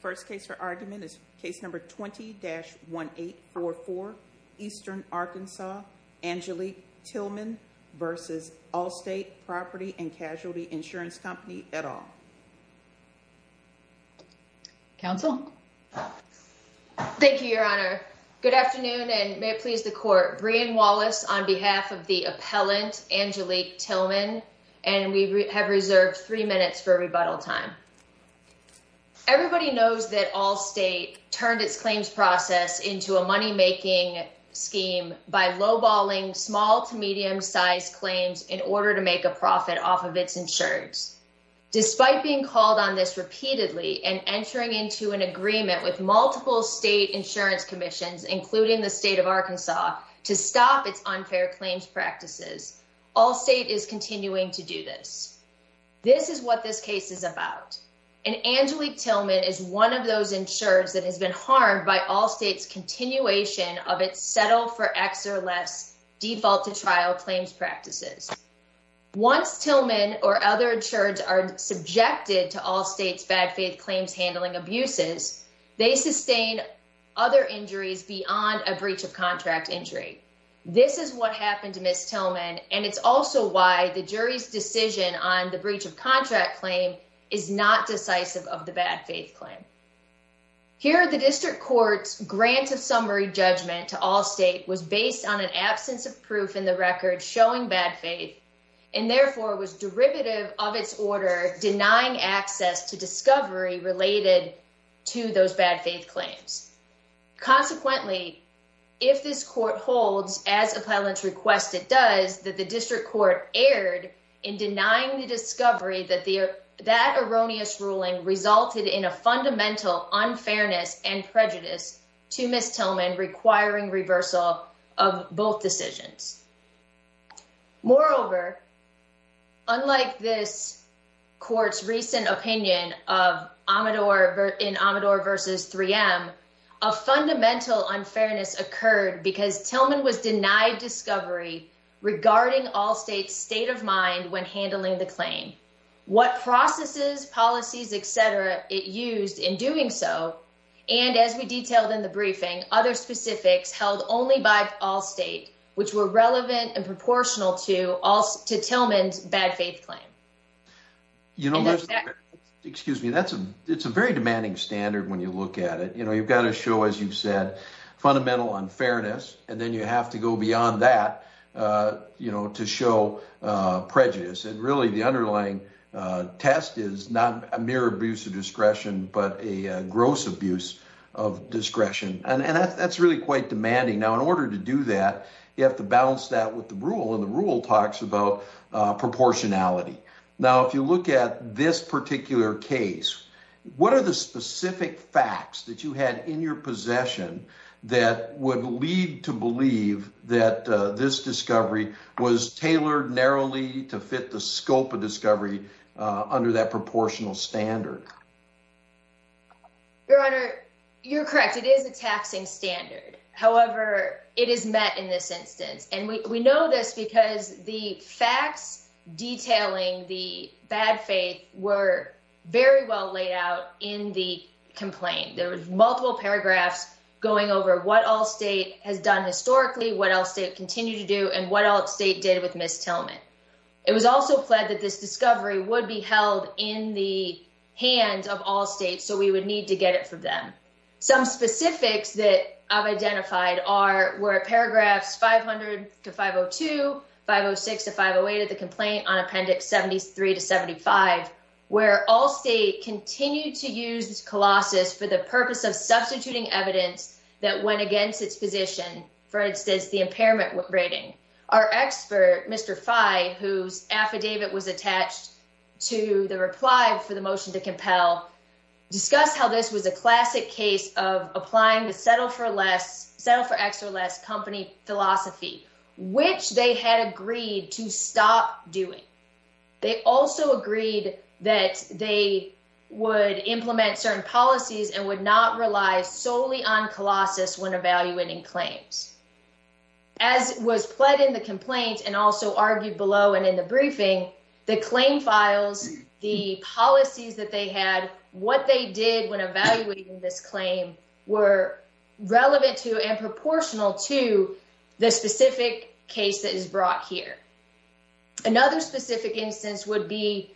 First case for argument is case number 20-1844, Eastern Arkansas, Angelique Tilghman v. Allstate Property & Casualty Insurance Company, et al. Counsel? Thank you, Your Honor. Good afternoon, and may it please the Court. We are Brian Wallace on behalf of the appellant, Angelique Tilghman, and we have reserved three minutes for rebuttal time. Everybody knows that Allstate turned its claims process into a money-making scheme by low-balling small-to-medium-sized claims in order to make a profit off of its insurance. Despite being called on this repeatedly and entering into an agreement with multiple state insurance commissions, including the state of Arkansas, to stop its unfair claims practices, Allstate is continuing to do this. This is what this case is about, and Angelique Tilghman is one of those insureds that has been harmed by Allstate's continuation of its settle-for-X-or-less default-to-trial claims practices. Once Tilghman or other insureds are subjected to Allstate's bad-faith claims handling abuses, they sustain other injuries beyond a breach-of-contract injury. This is what happened to Ms. Tilghman, and it's also why the jury's decision on the breach-of-contract claim is not decisive of the bad-faith claim. Here, the district court's grant-of-summary judgment to Allstate was based on an absence of proof in the record showing bad faith, and therefore was derivative of its order denying access to discovery related to those bad-faith claims. Consequently, if this court holds, as appellant's request it does, that the district court erred in denying the discovery that that erroneous ruling resulted in a fundamental unfairness and prejudice to Ms. Tilghman requiring reversal of both decisions. Moreover, unlike this court's recent opinion in Amador v. 3M, a fundamental unfairness occurred because Tilghman was denied discovery regarding Allstate's state of mind when handling the claim, what processes, policies, etc. it used in doing so, and as we detailed in the briefing, other specifics held only by Allstate which were relevant and proportional to Tilghman's bad-faith claim. In other words, a bad-faith claim is not a mere abuse of discretion, but a gross abuse of discretion, and that's really quite demanding. Now, in order to do that, you have to balance that with the rule, and the rule talks about proportionality. Now, if you look at this particular case, what are the specific facts that you had in your possession that would lead to believe that this discovery was tailored narrowly to fit the scope of discovery under that proportional standard? Your Honor, you're correct. It is a taxing standard. However, it is met in this instance, and we know this because the facts detailing the bad faith were very well laid out in the complaint. There were multiple paragraphs going over what Allstate has done historically, what Allstate continued to do, and what Allstate did with Ms. Tilghman. It was also pled that this discovery would be held in the hands of Allstate, so we would need to get it from them. Some specifics that I've identified were paragraphs 500-502, 506-508 of the complaint on Appendix 73-75, where Allstate continued to use Colossus for the purpose of substituting evidence that went against its position, for instance, the impairment rating. Our expert, Mr. Fye, whose affidavit was attached to the reply for the motion to compel, discussed how this was a classic case of applying the settle for X or less company philosophy, which they had agreed to stop doing. They also agreed that they would implement certain policies and would not rely solely on Colossus when evaluating claims. As was pled in the complaint and also argued below and in the briefing, the claim files, the policies that they had, what they did when evaluating this claim were relevant to and proportional to the specific case that is brought here. Another specific instance would be,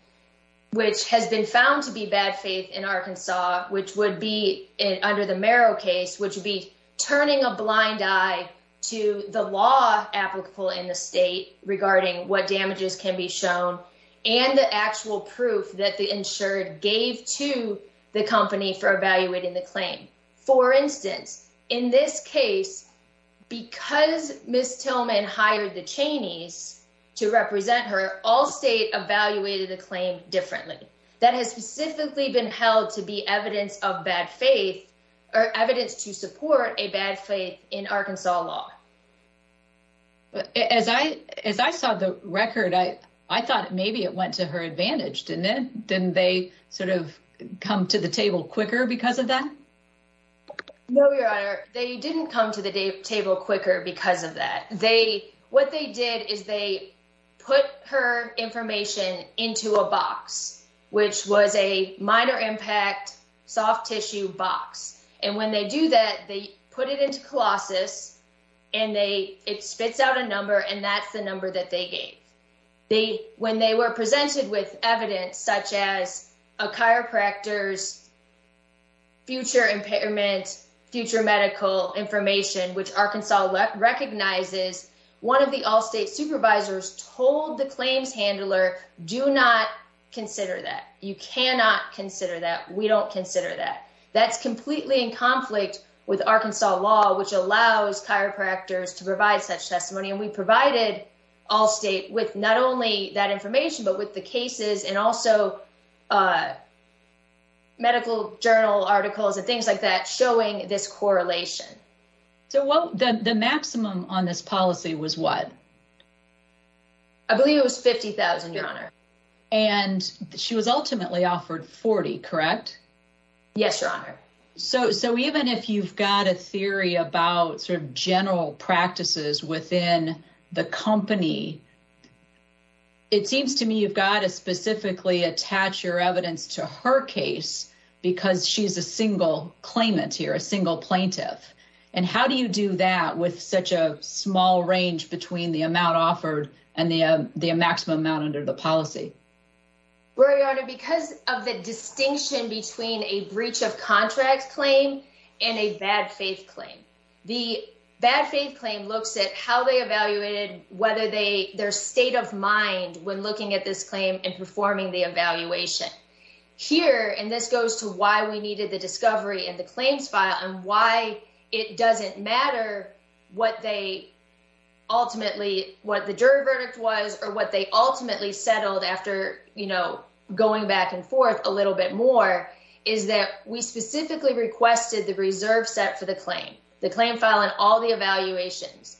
which has been found to be bad faith in Arkansas, which would be under the Merrill case, which would be turning a blind eye to the law applicable in the state regarding what damages can be shown and the actual proof that the insured gave to the company for evaluating the claim. For instance, in this case, because Miss Tillman hired the Cheney's to represent her, Allstate evaluated the claim differently. That has specifically been held to be evidence of bad faith or evidence to support a bad faith in Arkansas law. But as I, as I saw the record, I, I thought maybe it went to her advantage. Didn't it? Didn't they sort of come to the table quicker because of that? No, your honor. They didn't come to the table quicker because of that. They what they did is they put her information into a box, which was a minor impact soft tissue box. And when they do that, they put it into Colossus and they, it spits out a number and that's the number that they gave. They, when they were presented with evidence, such as a chiropractor's. Future impairment, future medical information, which Arkansas recognizes 1 of the Allstate supervisors told the claims handler do not consider that you cannot consider that we don't consider that that's completely in conflict with Arkansas law, which allows chiropractors to provide such testimony. And we provided Allstate with not only that information, but with the cases and also medical journal articles and things like that showing this correlation. So, well, the maximum on this policy was what? I believe it was 50,000, your honor. And she was ultimately offered 40, correct? Yes, your honor. So, so even if you've got a theory about sort of general practices within the company. It seems to me you've got to specifically attach your evidence to her case because she's a single claimant here, a single plaintiff. And how do you do that with such a small range between the amount offered and the maximum amount under the policy? Because of the distinction between a breach of contract claim and a bad faith claim, the bad faith claim looks at how they evaluated whether they their state of mind when looking at this claim and performing the evaluation here. And this goes to why we needed the discovery and the claims file and why it doesn't matter what they. Ultimately, what the jury verdict was, or what they ultimately settled after going back and forth a little bit more is that we specifically requested the reserve set for the claim the claim file and all the evaluations.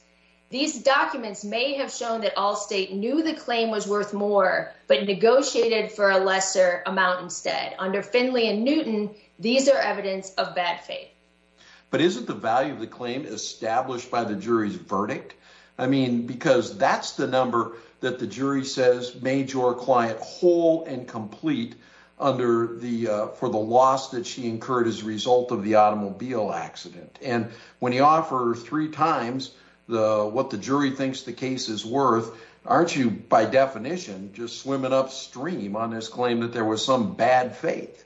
These documents may have shown that all state knew the claim was worth more, but negotiated for a lesser amount instead under Finley and Newton. These are evidence of bad faith. But isn't the value of the claim established by the jury's verdict? I mean, because that's the number that the jury says made your client whole and complete under the for the loss that she incurred as a result of the automobile accident. And when you offer three times the what the jury thinks the case is worth, aren't you by definition just swimming upstream on this claim that there was some bad faith?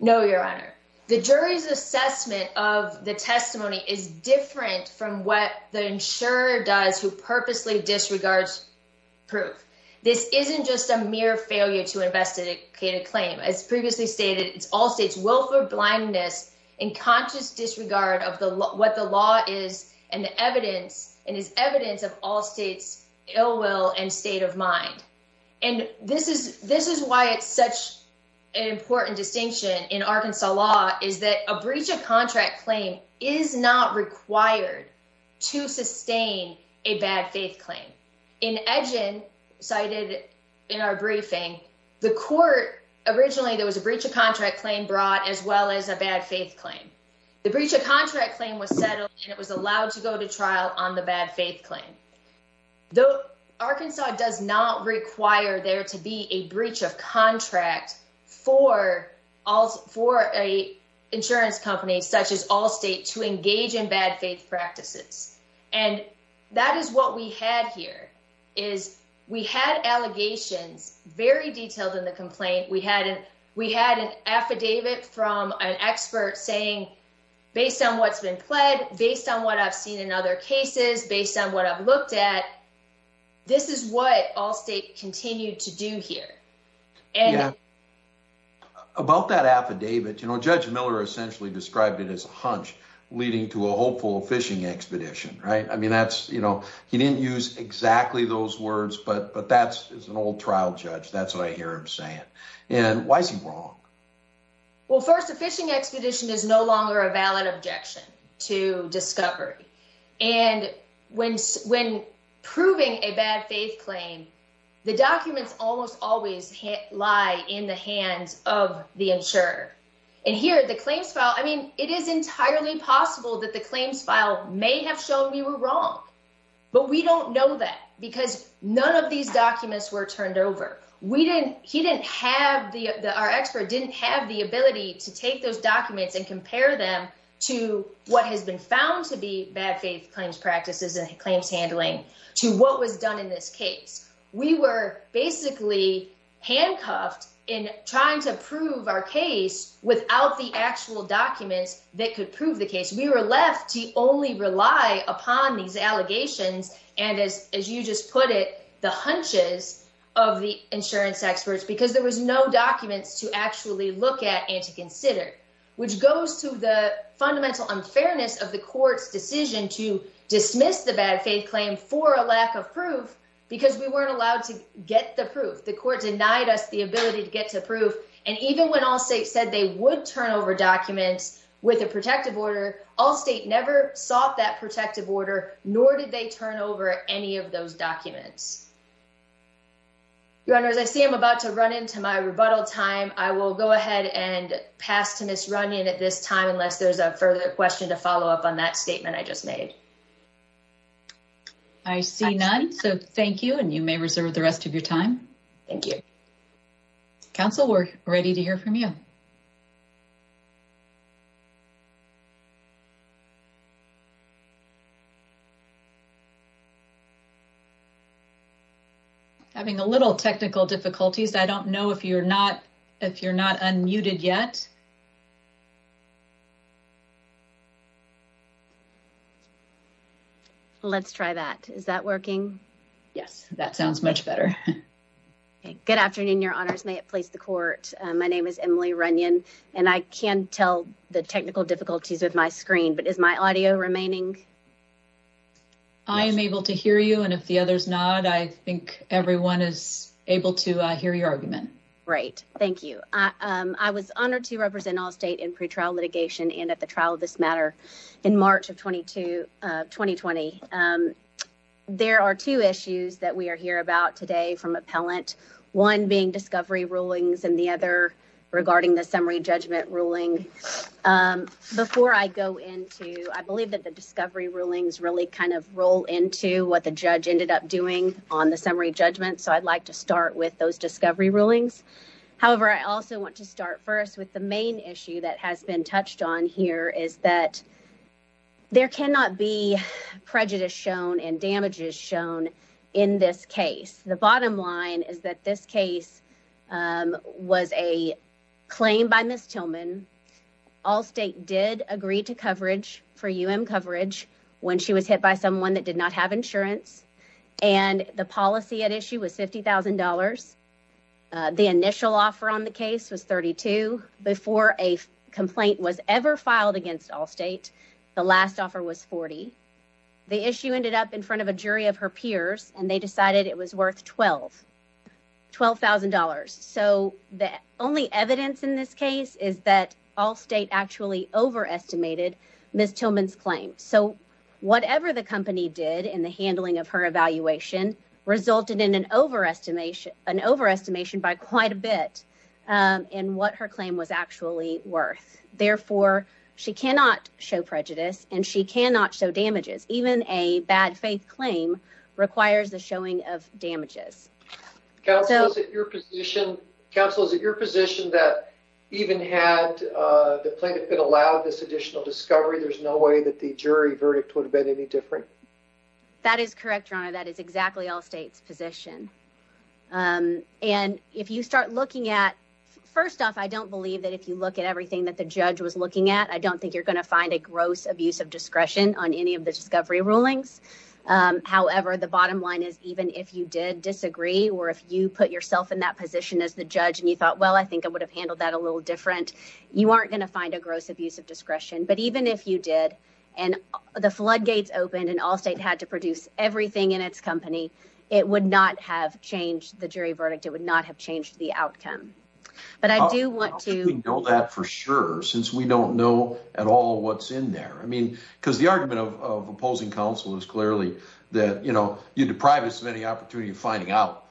No, your honor, the jury's assessment of the testimony is different from what the insurer does who purposely disregards. Proof this isn't just a mere failure to investigate a claim as previously stated, it's all states will for blindness and conscious disregard of the what the law is and the evidence and is evidence of all states. And state of mind, and this is this is why it's such an important distinction in Arkansas law is that a breach of contract claim is not required to sustain a bad faith claim. In engine cited in our briefing the court. Originally, there was a breach of contract claim brought as well as a bad faith claim. The breach of contract claim was settled and it was allowed to go to trial on the bad faith claim. Though Arkansas does not require there to be a breach of contract for all for a insurance company, such as all state to engage in bad faith practices. And that is what we had here is we had allegations very detailed in the complaint. We had we had an affidavit from an expert saying, based on what's been pled based on what I've seen in other cases based on what I've looked at. This is what all state continue to do here and. About that affidavit, you know, judge Miller essentially described it as a hunch leading to a hopeful fishing expedition, right? I mean, that's, you know, he didn't use exactly those words, but but that's an old trial judge. That's what I hear him saying. And why is he wrong? Well, 1st, a fishing expedition is no longer a valid objection to discovery and when when proving a bad faith claim, the documents almost always hit lie in the hands of the insurer. And here the claims file, I mean, it is entirely possible that the claims file may have shown we were wrong, but we don't know that because none of these documents were turned over. We didn't he didn't have the our expert didn't have the ability to take those documents and compare them to what has been found to be bad faith claims practices and claims handling to what was done in this case. We were basically handcuffed in trying to prove our case without the actual documents that could prove the case. We were left to only rely upon these allegations. And as you just put it, the hunches of the insurance experts, because there was no documents to actually look at and to consider, which goes to the fundamental unfairness of the court's decision to dismiss the bad faith claim for a lack of proof. Because we weren't allowed to get the proof. The court denied us the ability to get to proof. And even when all state said they would turn over documents with a protective order, all state never sought that protective order, nor did they turn over any of those documents. Runners, I see I'm about to run into my rebuttal time. I will go ahead and pass to miss running at this time, unless there's a further question to follow up on that statement. I just made. I see none. So thank you. And you may reserve the rest of your time. Thank you. Council, we're ready to hear from you. Having a little technical difficulties. I don't know if you're not if you're not unmuted yet. Let's try that. Is that working? Yes, that sounds much better. Good afternoon, Your Honors. May it please the court. My name is Emily Runyon, and I can tell the technical difficulties with my screen. But is my audio remaining? I am able to hear you. And if the others not, I think everyone is able to hear your argument. Right. Thank you. I was honored to represent all state in pretrial litigation and at the trial of this matter in March of 22, 2020. There are two issues that we are here about today from appellant one being discovery rulings and the other regarding the summary judgment ruling. Before I go into, I believe that the discovery rulings really kind of roll into what the judge ended up doing on the summary judgment. So I'd like to start with those discovery rulings. However, I also want to start first with the main issue that has been touched on here is that there cannot be prejudice shown and damages shown in this case. The bottom line is that this case was a claim by Miss Tillman. All state did agree to coverage for UM coverage when she was hit by someone that did not have insurance and the policy at issue was $50,000. The initial offer on the case was 32 before a complaint was ever filed against all state. The last offer was 40. The issue ended up in front of a jury of her peers and they decided it was worth $12,000. So the only evidence in this case is that all state actually overestimated Miss Tillman's claim. So whatever the company did in the handling of her evaluation resulted in an overestimation by quite a bit in what her claim was actually worth. Therefore, she cannot show prejudice and she cannot show damages. Even a bad faith claim requires the showing of damages. Counsel is at your position that even had the plaintiff been allowed this additional discovery, there's no way that the jury verdict would have been any different. That is correct, your honor. That is exactly all states position. And if you start looking at first off, I don't believe that if you look at everything that the judge was looking at, I don't think you're going to find a gross abuse of discretion on any of the discovery rulings. However, the bottom line is, even if you did disagree or if you put yourself in that position as the judge and you thought, well, I think I would have handled that a little different. You aren't going to find a gross abuse of discretion, but even if you did and the floodgates opened and all state had to produce everything in its company, it would not have changed the jury verdict. It would not have changed the outcome, but I do want to know that for sure, since we don't know at all what's in there. I mean, because the argument of opposing counsel is clearly that, you know, you deprive us of any opportunity of finding out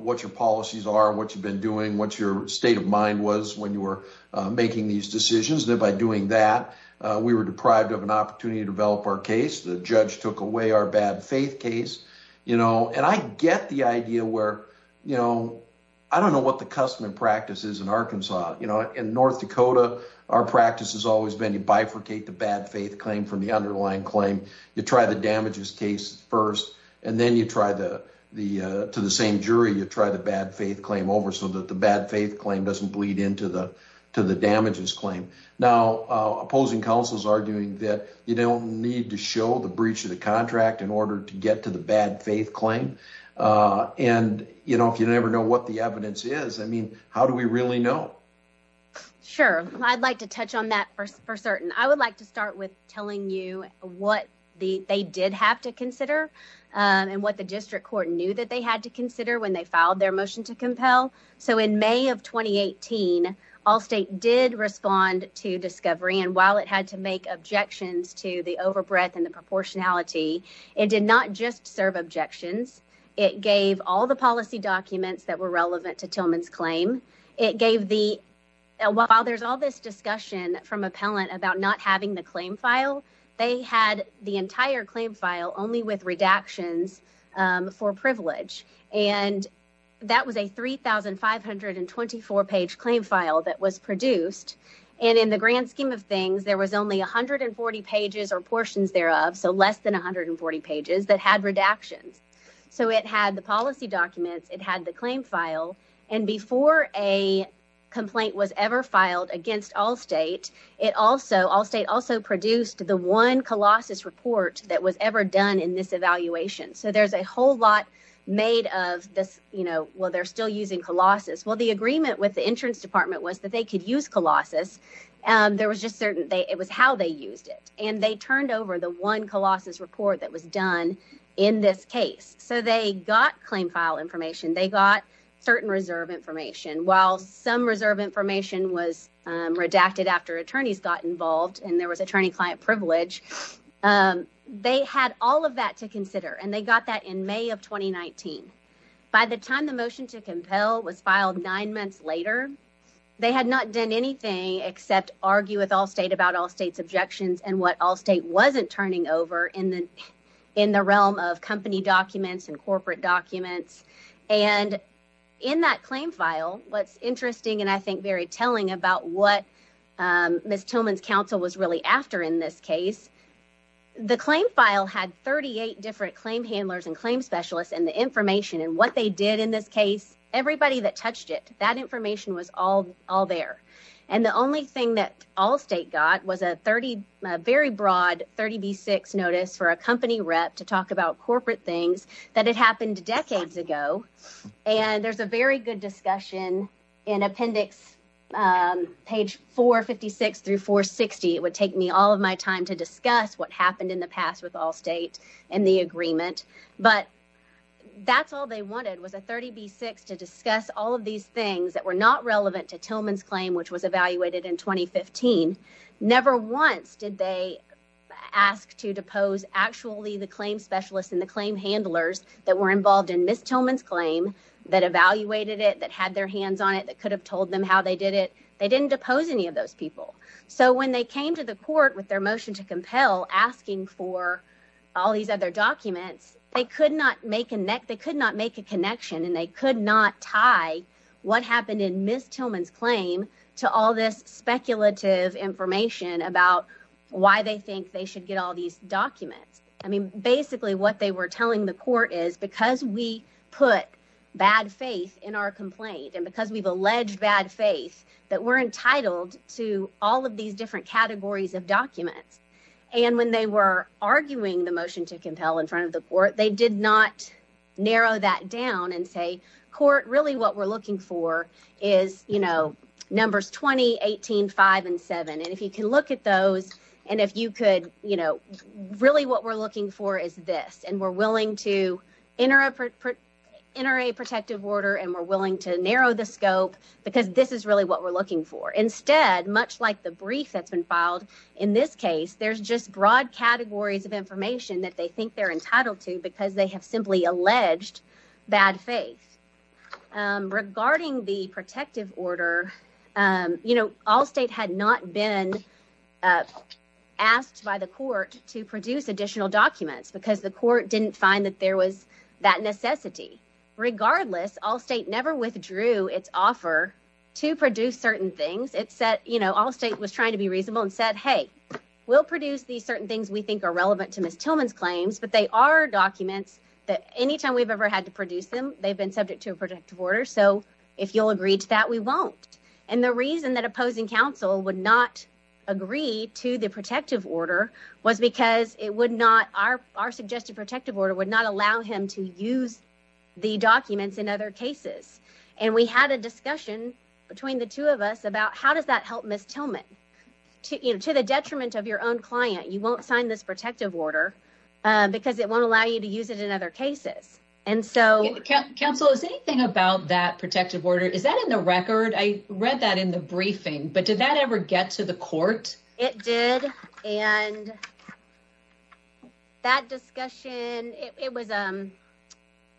what your policies are, what you've been doing, what your state of mind was when you were making these decisions. And by doing that, we were deprived of an opportunity to develop our case. The judge took away our bad faith case, you know, and I get the idea where, you know, I don't know what the custom and practice is in Arkansas. You know, in North Dakota, our practice has always been to bifurcate the bad faith claim from the underlying claim. You try the damages case first, and then you try to the same jury. You try the bad faith claim over so that the bad faith claim doesn't bleed into the to the damages claim. Now, opposing counsel is arguing that you don't need to show the breach of the contract in order to get to the bad faith claim. And, you know, if you never know what the evidence is, I mean, how do we really know? Sure, I'd like to touch on that for certain. I would like to start with telling you what they did have to consider and what the district court knew that they had to consider when they filed their motion to compel. So in May of twenty eighteen, all state did respond to discovery. And while it had to make objections to the overbreadth and the proportionality, it did not just serve objections. It gave all the policy documents that were relevant to Tillman's claim. It gave the while there's all this discussion from appellant about not having the claim file. They had the entire claim file only with redactions for privilege. And that was a three thousand five hundred and twenty four page claim file that was produced. And in the grand scheme of things, there was only one hundred and forty pages or portions thereof. So less than one hundred and forty pages that had redactions. So it had the policy documents. It had the claim file. And before a complaint was ever filed against all state, it also all state also produced the one colossus report that was ever done in this evaluation. So there's a whole lot made of this. Well, they're still using Colossus. Well, the agreement with the insurance department was that they could use Colossus. There was just certain it was how they used it. And they turned over the one colossus report that was done in this case. So they got claim file information. They got certain reserve information. While some reserve information was redacted after attorneys got involved and there was attorney client privilege. They had all of that to consider and they got that in May of twenty nineteen. By the time the motion to compel was filed nine months later, they had not done anything except argue with all state about all state's objections and what all state wasn't turning over in the in the realm of company documents and corporate documents. And in that claim file, what's interesting and I think very telling about what Miss Tillman's counsel was really after in this case, the claim file had thirty eight different claim handlers and claim specialists and the information and what they did in this case. Everybody that touched it, that information was all all there. And the only thing that all state got was a 30 very broad 30 B6 notice for a company rep to talk about corporate things that had happened decades ago. And there's a very good discussion in appendix page four fifty six through four sixty. It would take me all of my time to discuss what happened in the past with all state and the agreement. But that's all they wanted was a 30 B6 to discuss all of these things that were not relevant to Tillman's claim, which was evaluated in twenty fifteen. Never once did they ask to depose actually the claim specialist in the claim handlers that were involved in Miss Tillman's claim that evaluated it, that had their hands on it, that could have told them how they did it. They didn't depose any of those people. So when they came to the court with their motion to compel asking for all these other documents, they could not make a neck, they could not make a connection and they could not tie what happened in Miss Tillman's claim to all this speculative information about why they think they should get all these documents. I mean, basically what they were telling the court is because we put bad faith in our complaint and because we've alleged bad faith that we're entitled to all of these different categories of documents. And when they were arguing the motion to compel in front of the court, they did not narrow that down and say court. Really, what we're looking for is, you know, numbers twenty eighteen five and seven. And if you can look at those and if you could, you know, really what we're looking for is this. And we're willing to enter a protective order and we're willing to narrow the scope because this is really what we're looking for. Instead, much like the brief that's been filed in this case, there's just broad categories of information that they think they're entitled to because they have simply alleged bad faith. Regarding the protective order, you know, all state had not been asked by the court to produce additional documents because the court didn't find that there was that necessity. Regardless, all state never withdrew its offer to produce certain things. It said, you know, all state was trying to be reasonable and said, hey, we'll produce these certain things we think are relevant to Miss Tillman's claims. But they are documents that anytime we've ever had to produce them, they've been subject to a protective order. So if you'll agree to that, we won't. And the reason that opposing counsel would not agree to the protective order was because it would not our our suggested protective order would not allow him to use the documents in other cases. And we had a discussion between the two of us about how does that help Miss Tillman to the detriment of your own client? You won't sign this protective order because it won't allow you to use it in other cases. And so counsel is anything about that protective order? Is that in the record? I read that in the briefing, but did that ever get to the court? It did. And that discussion, it was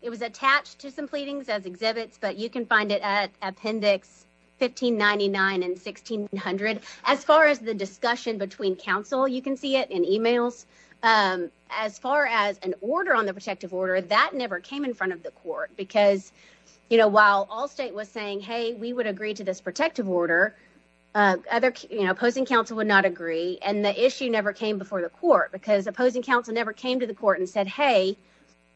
it was attached to some pleadings as exhibits, but you can find it at Appendix 1599 and 1600. As far as the discussion between counsel, you can see it in emails. As far as an order on the protective order that never came in front of the court, because, you know, while all state was saying, hey, we would agree to this protective order, other opposing counsel would not agree. And the issue never came before the court because opposing counsel never came to the court and said, hey,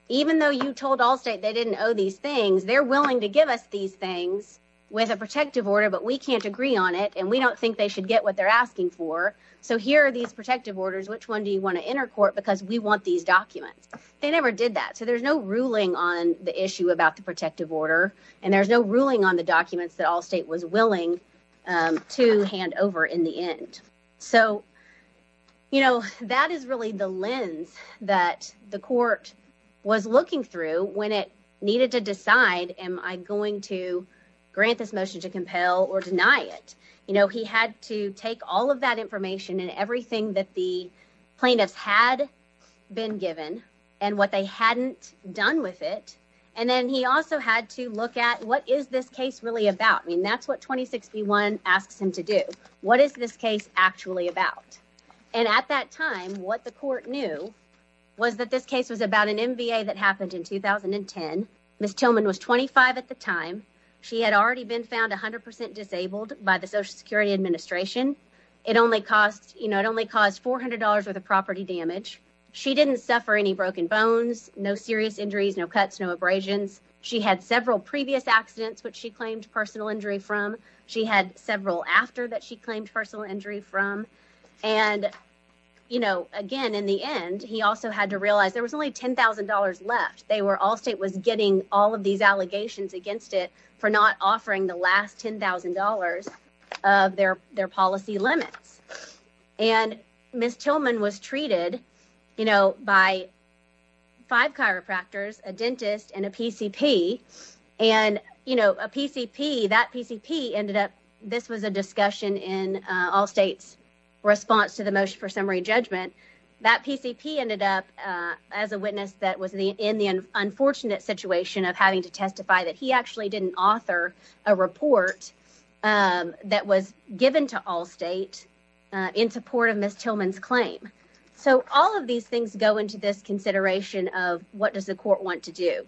even though you told all state they didn't owe these things, they're willing to give us these things with a protective order. But we can't agree on it and we don't think they should get what they're asking for. So here are these protective orders. Which one do you want to enter court? Because we want these documents. They never did that. So there's no ruling on the issue about the protective order and there's no ruling on the documents that all state was willing to hand over in the end. So, you know, that is really the lens that the court was looking through when it needed to decide, am I going to grant this motion to compel or deny it? You know, he had to take all of that information and everything that the plaintiffs had been given and what they hadn't done with it. And then he also had to look at what is this case really about? I mean, that's what twenty sixty one asks him to do. What is this case actually about? And at that time, what the court knew was that this case was about an NBA that happened in 2010. Miss Tillman was twenty five at the time. She had already been found one hundred percent disabled by the Social Security Administration. It only cost you know, it only cost four hundred dollars worth of property damage. She didn't suffer any broken bones, no serious injuries, no cuts, no abrasions. She had several previous accidents which she claimed personal injury from. She had several after that she claimed personal injury from. And, you know, again, in the end, he also had to realize there was only ten thousand dollars left. They were all state was getting all of these allegations against it for not offering the last ten thousand dollars of their their policy limits. And Miss Tillman was treated, you know, by five chiropractors, a dentist and a PCP. And, you know, a PCP that PCP ended up. This was a discussion in all states response to the motion for summary judgment. That PCP ended up as a witness that was in the unfortunate situation of having to testify that he actually didn't author a report that was given to all state in support of Miss Tillman's claim. So all of these things go into this consideration of what does the court want to do?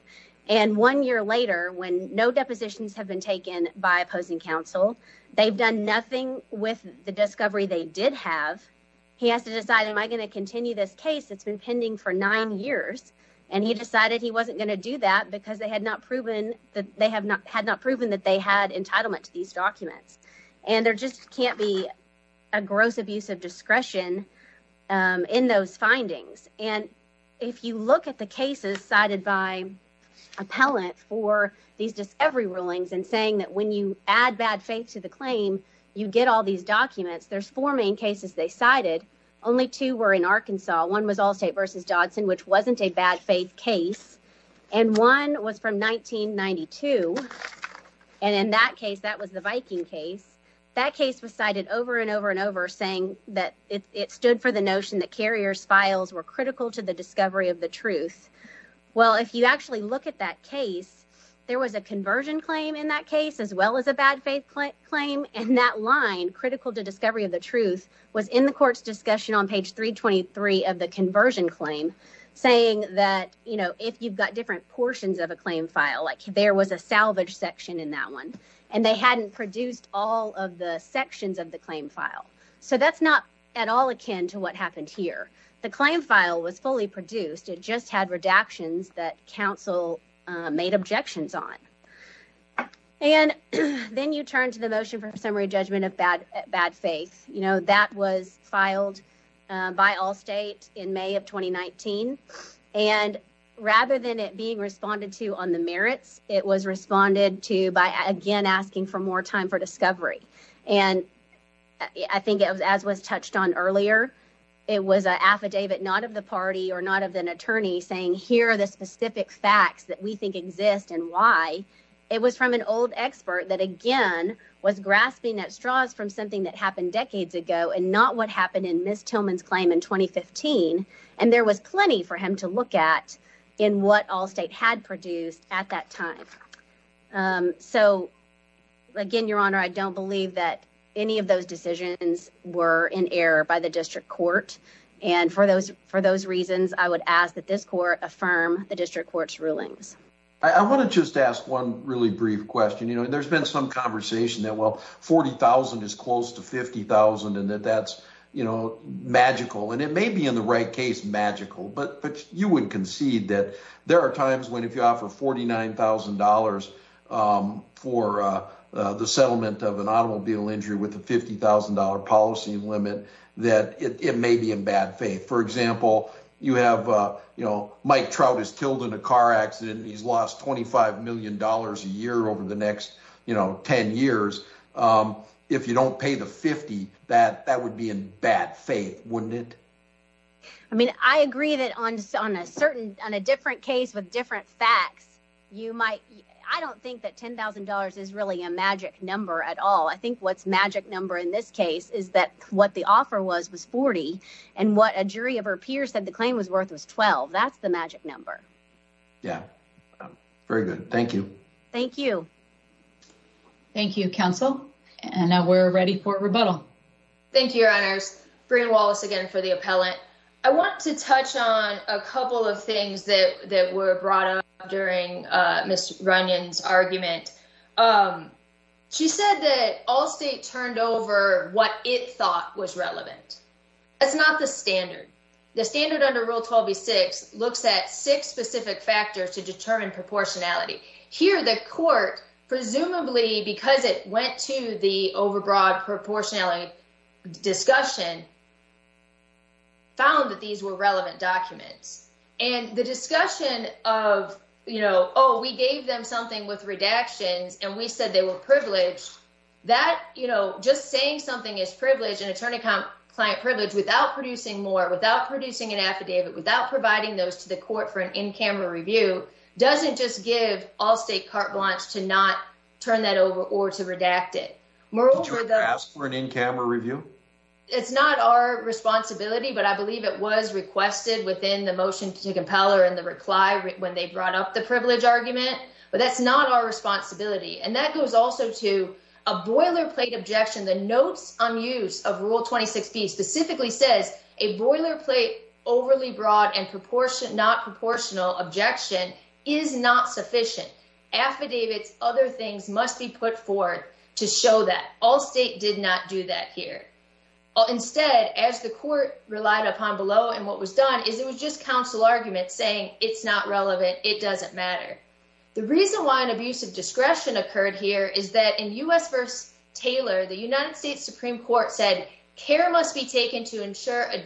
And one year later, when no depositions have been taken by opposing counsel, they've done nothing with the discovery they did have. He has to decide, am I going to continue this case that's been pending for nine years? And he decided he wasn't going to do that because they had not proven that they have not had not proven that they had entitlement to these documents. And there just can't be a gross abuse of discretion in those findings. And if you look at the cases cited by appellant for these, just every rulings and saying that when you add bad faith to the claim, you get all these documents. There's four main cases they cited. Only two were in Arkansas. One was all state versus Dodson, which wasn't a bad faith case. And one was from 1992. And in that case, that was the Viking case. That case was cited over and over and over, saying that it stood for the notion that carriers files were critical to the discovery of the truth. Well, if you actually look at that case, there was a conversion claim in that case, as well as a bad faith claim. And that line critical to discovery of the truth was in the court's discussion on page 323 of the conversion claim, saying that, you know, if you've got different portions of a claim file, like there was a salvage section in that one. And they hadn't produced all of the sections of the claim file. So that's not at all akin to what happened here. The claim file was fully produced. It just had redactions that council made objections on. And then you turn to the motion for summary judgment of bad bad faith. You know, that was filed by all state in May of 2019. And rather than it being responded to on the merits, it was responded to by, again, asking for more time for discovery. And I think it was as was touched on earlier. It was an affidavit, not of the party or not of an attorney saying here are the specific facts that we think exist and why. It was from an old expert that, again, was grasping at straws from something that happened decades ago and not what happened in Miss Tillman's claim in 2015. And there was plenty for him to look at in what all state had produced at that time. So, again, Your Honor, I don't believe that any of those decisions were in error by the district court. And for those for those reasons, I would ask that this court affirm the district court's rulings. I want to just ask one really brief question. You know, there's been some conversation that, well, 40,000 is close to 50,000 and that that's, you know, magical. And it may be, in the right case, magical. But you would concede that there are times when if you offer $49,000 for the settlement of an automobile injury with a $50,000 policy limit that it may be in bad faith. For example, you have, you know, Mike Trout is killed in a car accident. He's lost $25 million a year over the next, you know, 10 years. If you don't pay the 50, that that would be in bad faith, wouldn't it? I mean, I agree that on a certain on a different case with different facts, you might. I don't think that $10,000 is really a magic number at all. I think what's magic number in this case is that what the offer was was 40 and what a jury of her peers said the claim was worth was 12. That's the magic number. Yeah, very good. Thank you. Thank you. Thank you, counsel. And now we're ready for rebuttal. Thank you. Your honor's bring Wallace again for the appellant. I want to touch on a couple of things that that were brought up during Miss Runyon's argument. She said that all state turned over what it thought was relevant. It's not the standard. The standard under rule 12, 6 looks at six specific factors to determine proportionality here. The court, presumably because it went to the overbroad proportionality discussion. Found that these were relevant documents and the discussion of, you know, oh, we gave them something with redactions and we said they were privileged that, you know, just saying something is privileged and attorney client privilege without producing more, without producing an affidavit, without providing those to the court for an in camera review. Doesn't just give all state carte blanche to not turn that over or to redact it. Moreover, they ask for an in camera review. It's not our responsibility, but I believe it was requested within the motion to compel her in the reply when they brought up the privilege argument, but that's not our responsibility. And that goes also to a boilerplate objection. The notes on use of rule 26, specifically says a boilerplate, overly broad and proportionate, not proportional objection is not sufficient affidavits. Other things must be put forward to show that all state did not do that here. Instead, as the court relied upon below, and what was done is it was just counsel argument saying it's not relevant. It doesn't matter. The reason why an abuse of discretion occurred here is that in US versus Taylor, the United States Supreme Court said care must be taken to ensure a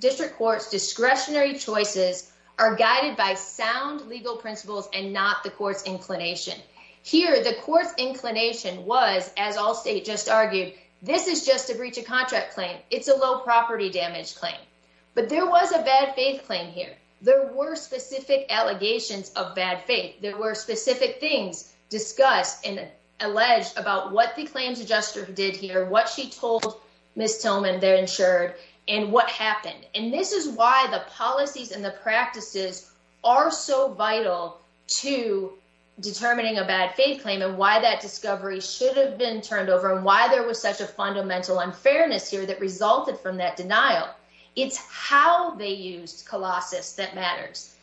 district courts discretionary choices are guided by sound legal principles and not the courts inclination here. The courts inclination was, as all state just argued, this is just a breach of contract claim. It's a low property damage claim, but there was a bad faith claim here. There were specific allegations of bad faith. And this is why the policies and the practices are so vital to determining a bad faith claim and why that discovery should have been turned over and why there was such a fundamental unfairness here that resulted from that denial. It's how they used Colossus that matters.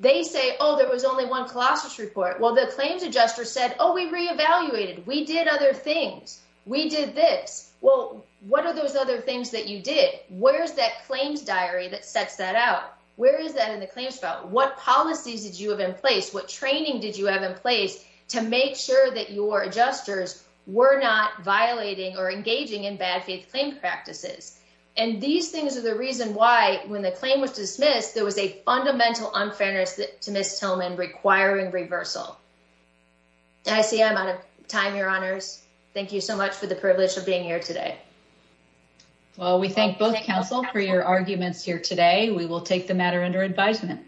They say, oh, there was only one Colossus report. Well, the claims adjuster said, oh, we reevaluated. We did other things. We did this. Well, what are those other things that you did? Where's that claims diary that sets that out? Where is that in the claims? I see I'm out of time. Your honors. Thank you so much for the privilege of being here today. Well, we thank both counsel for your arguments here today. We will take the matter under advisement.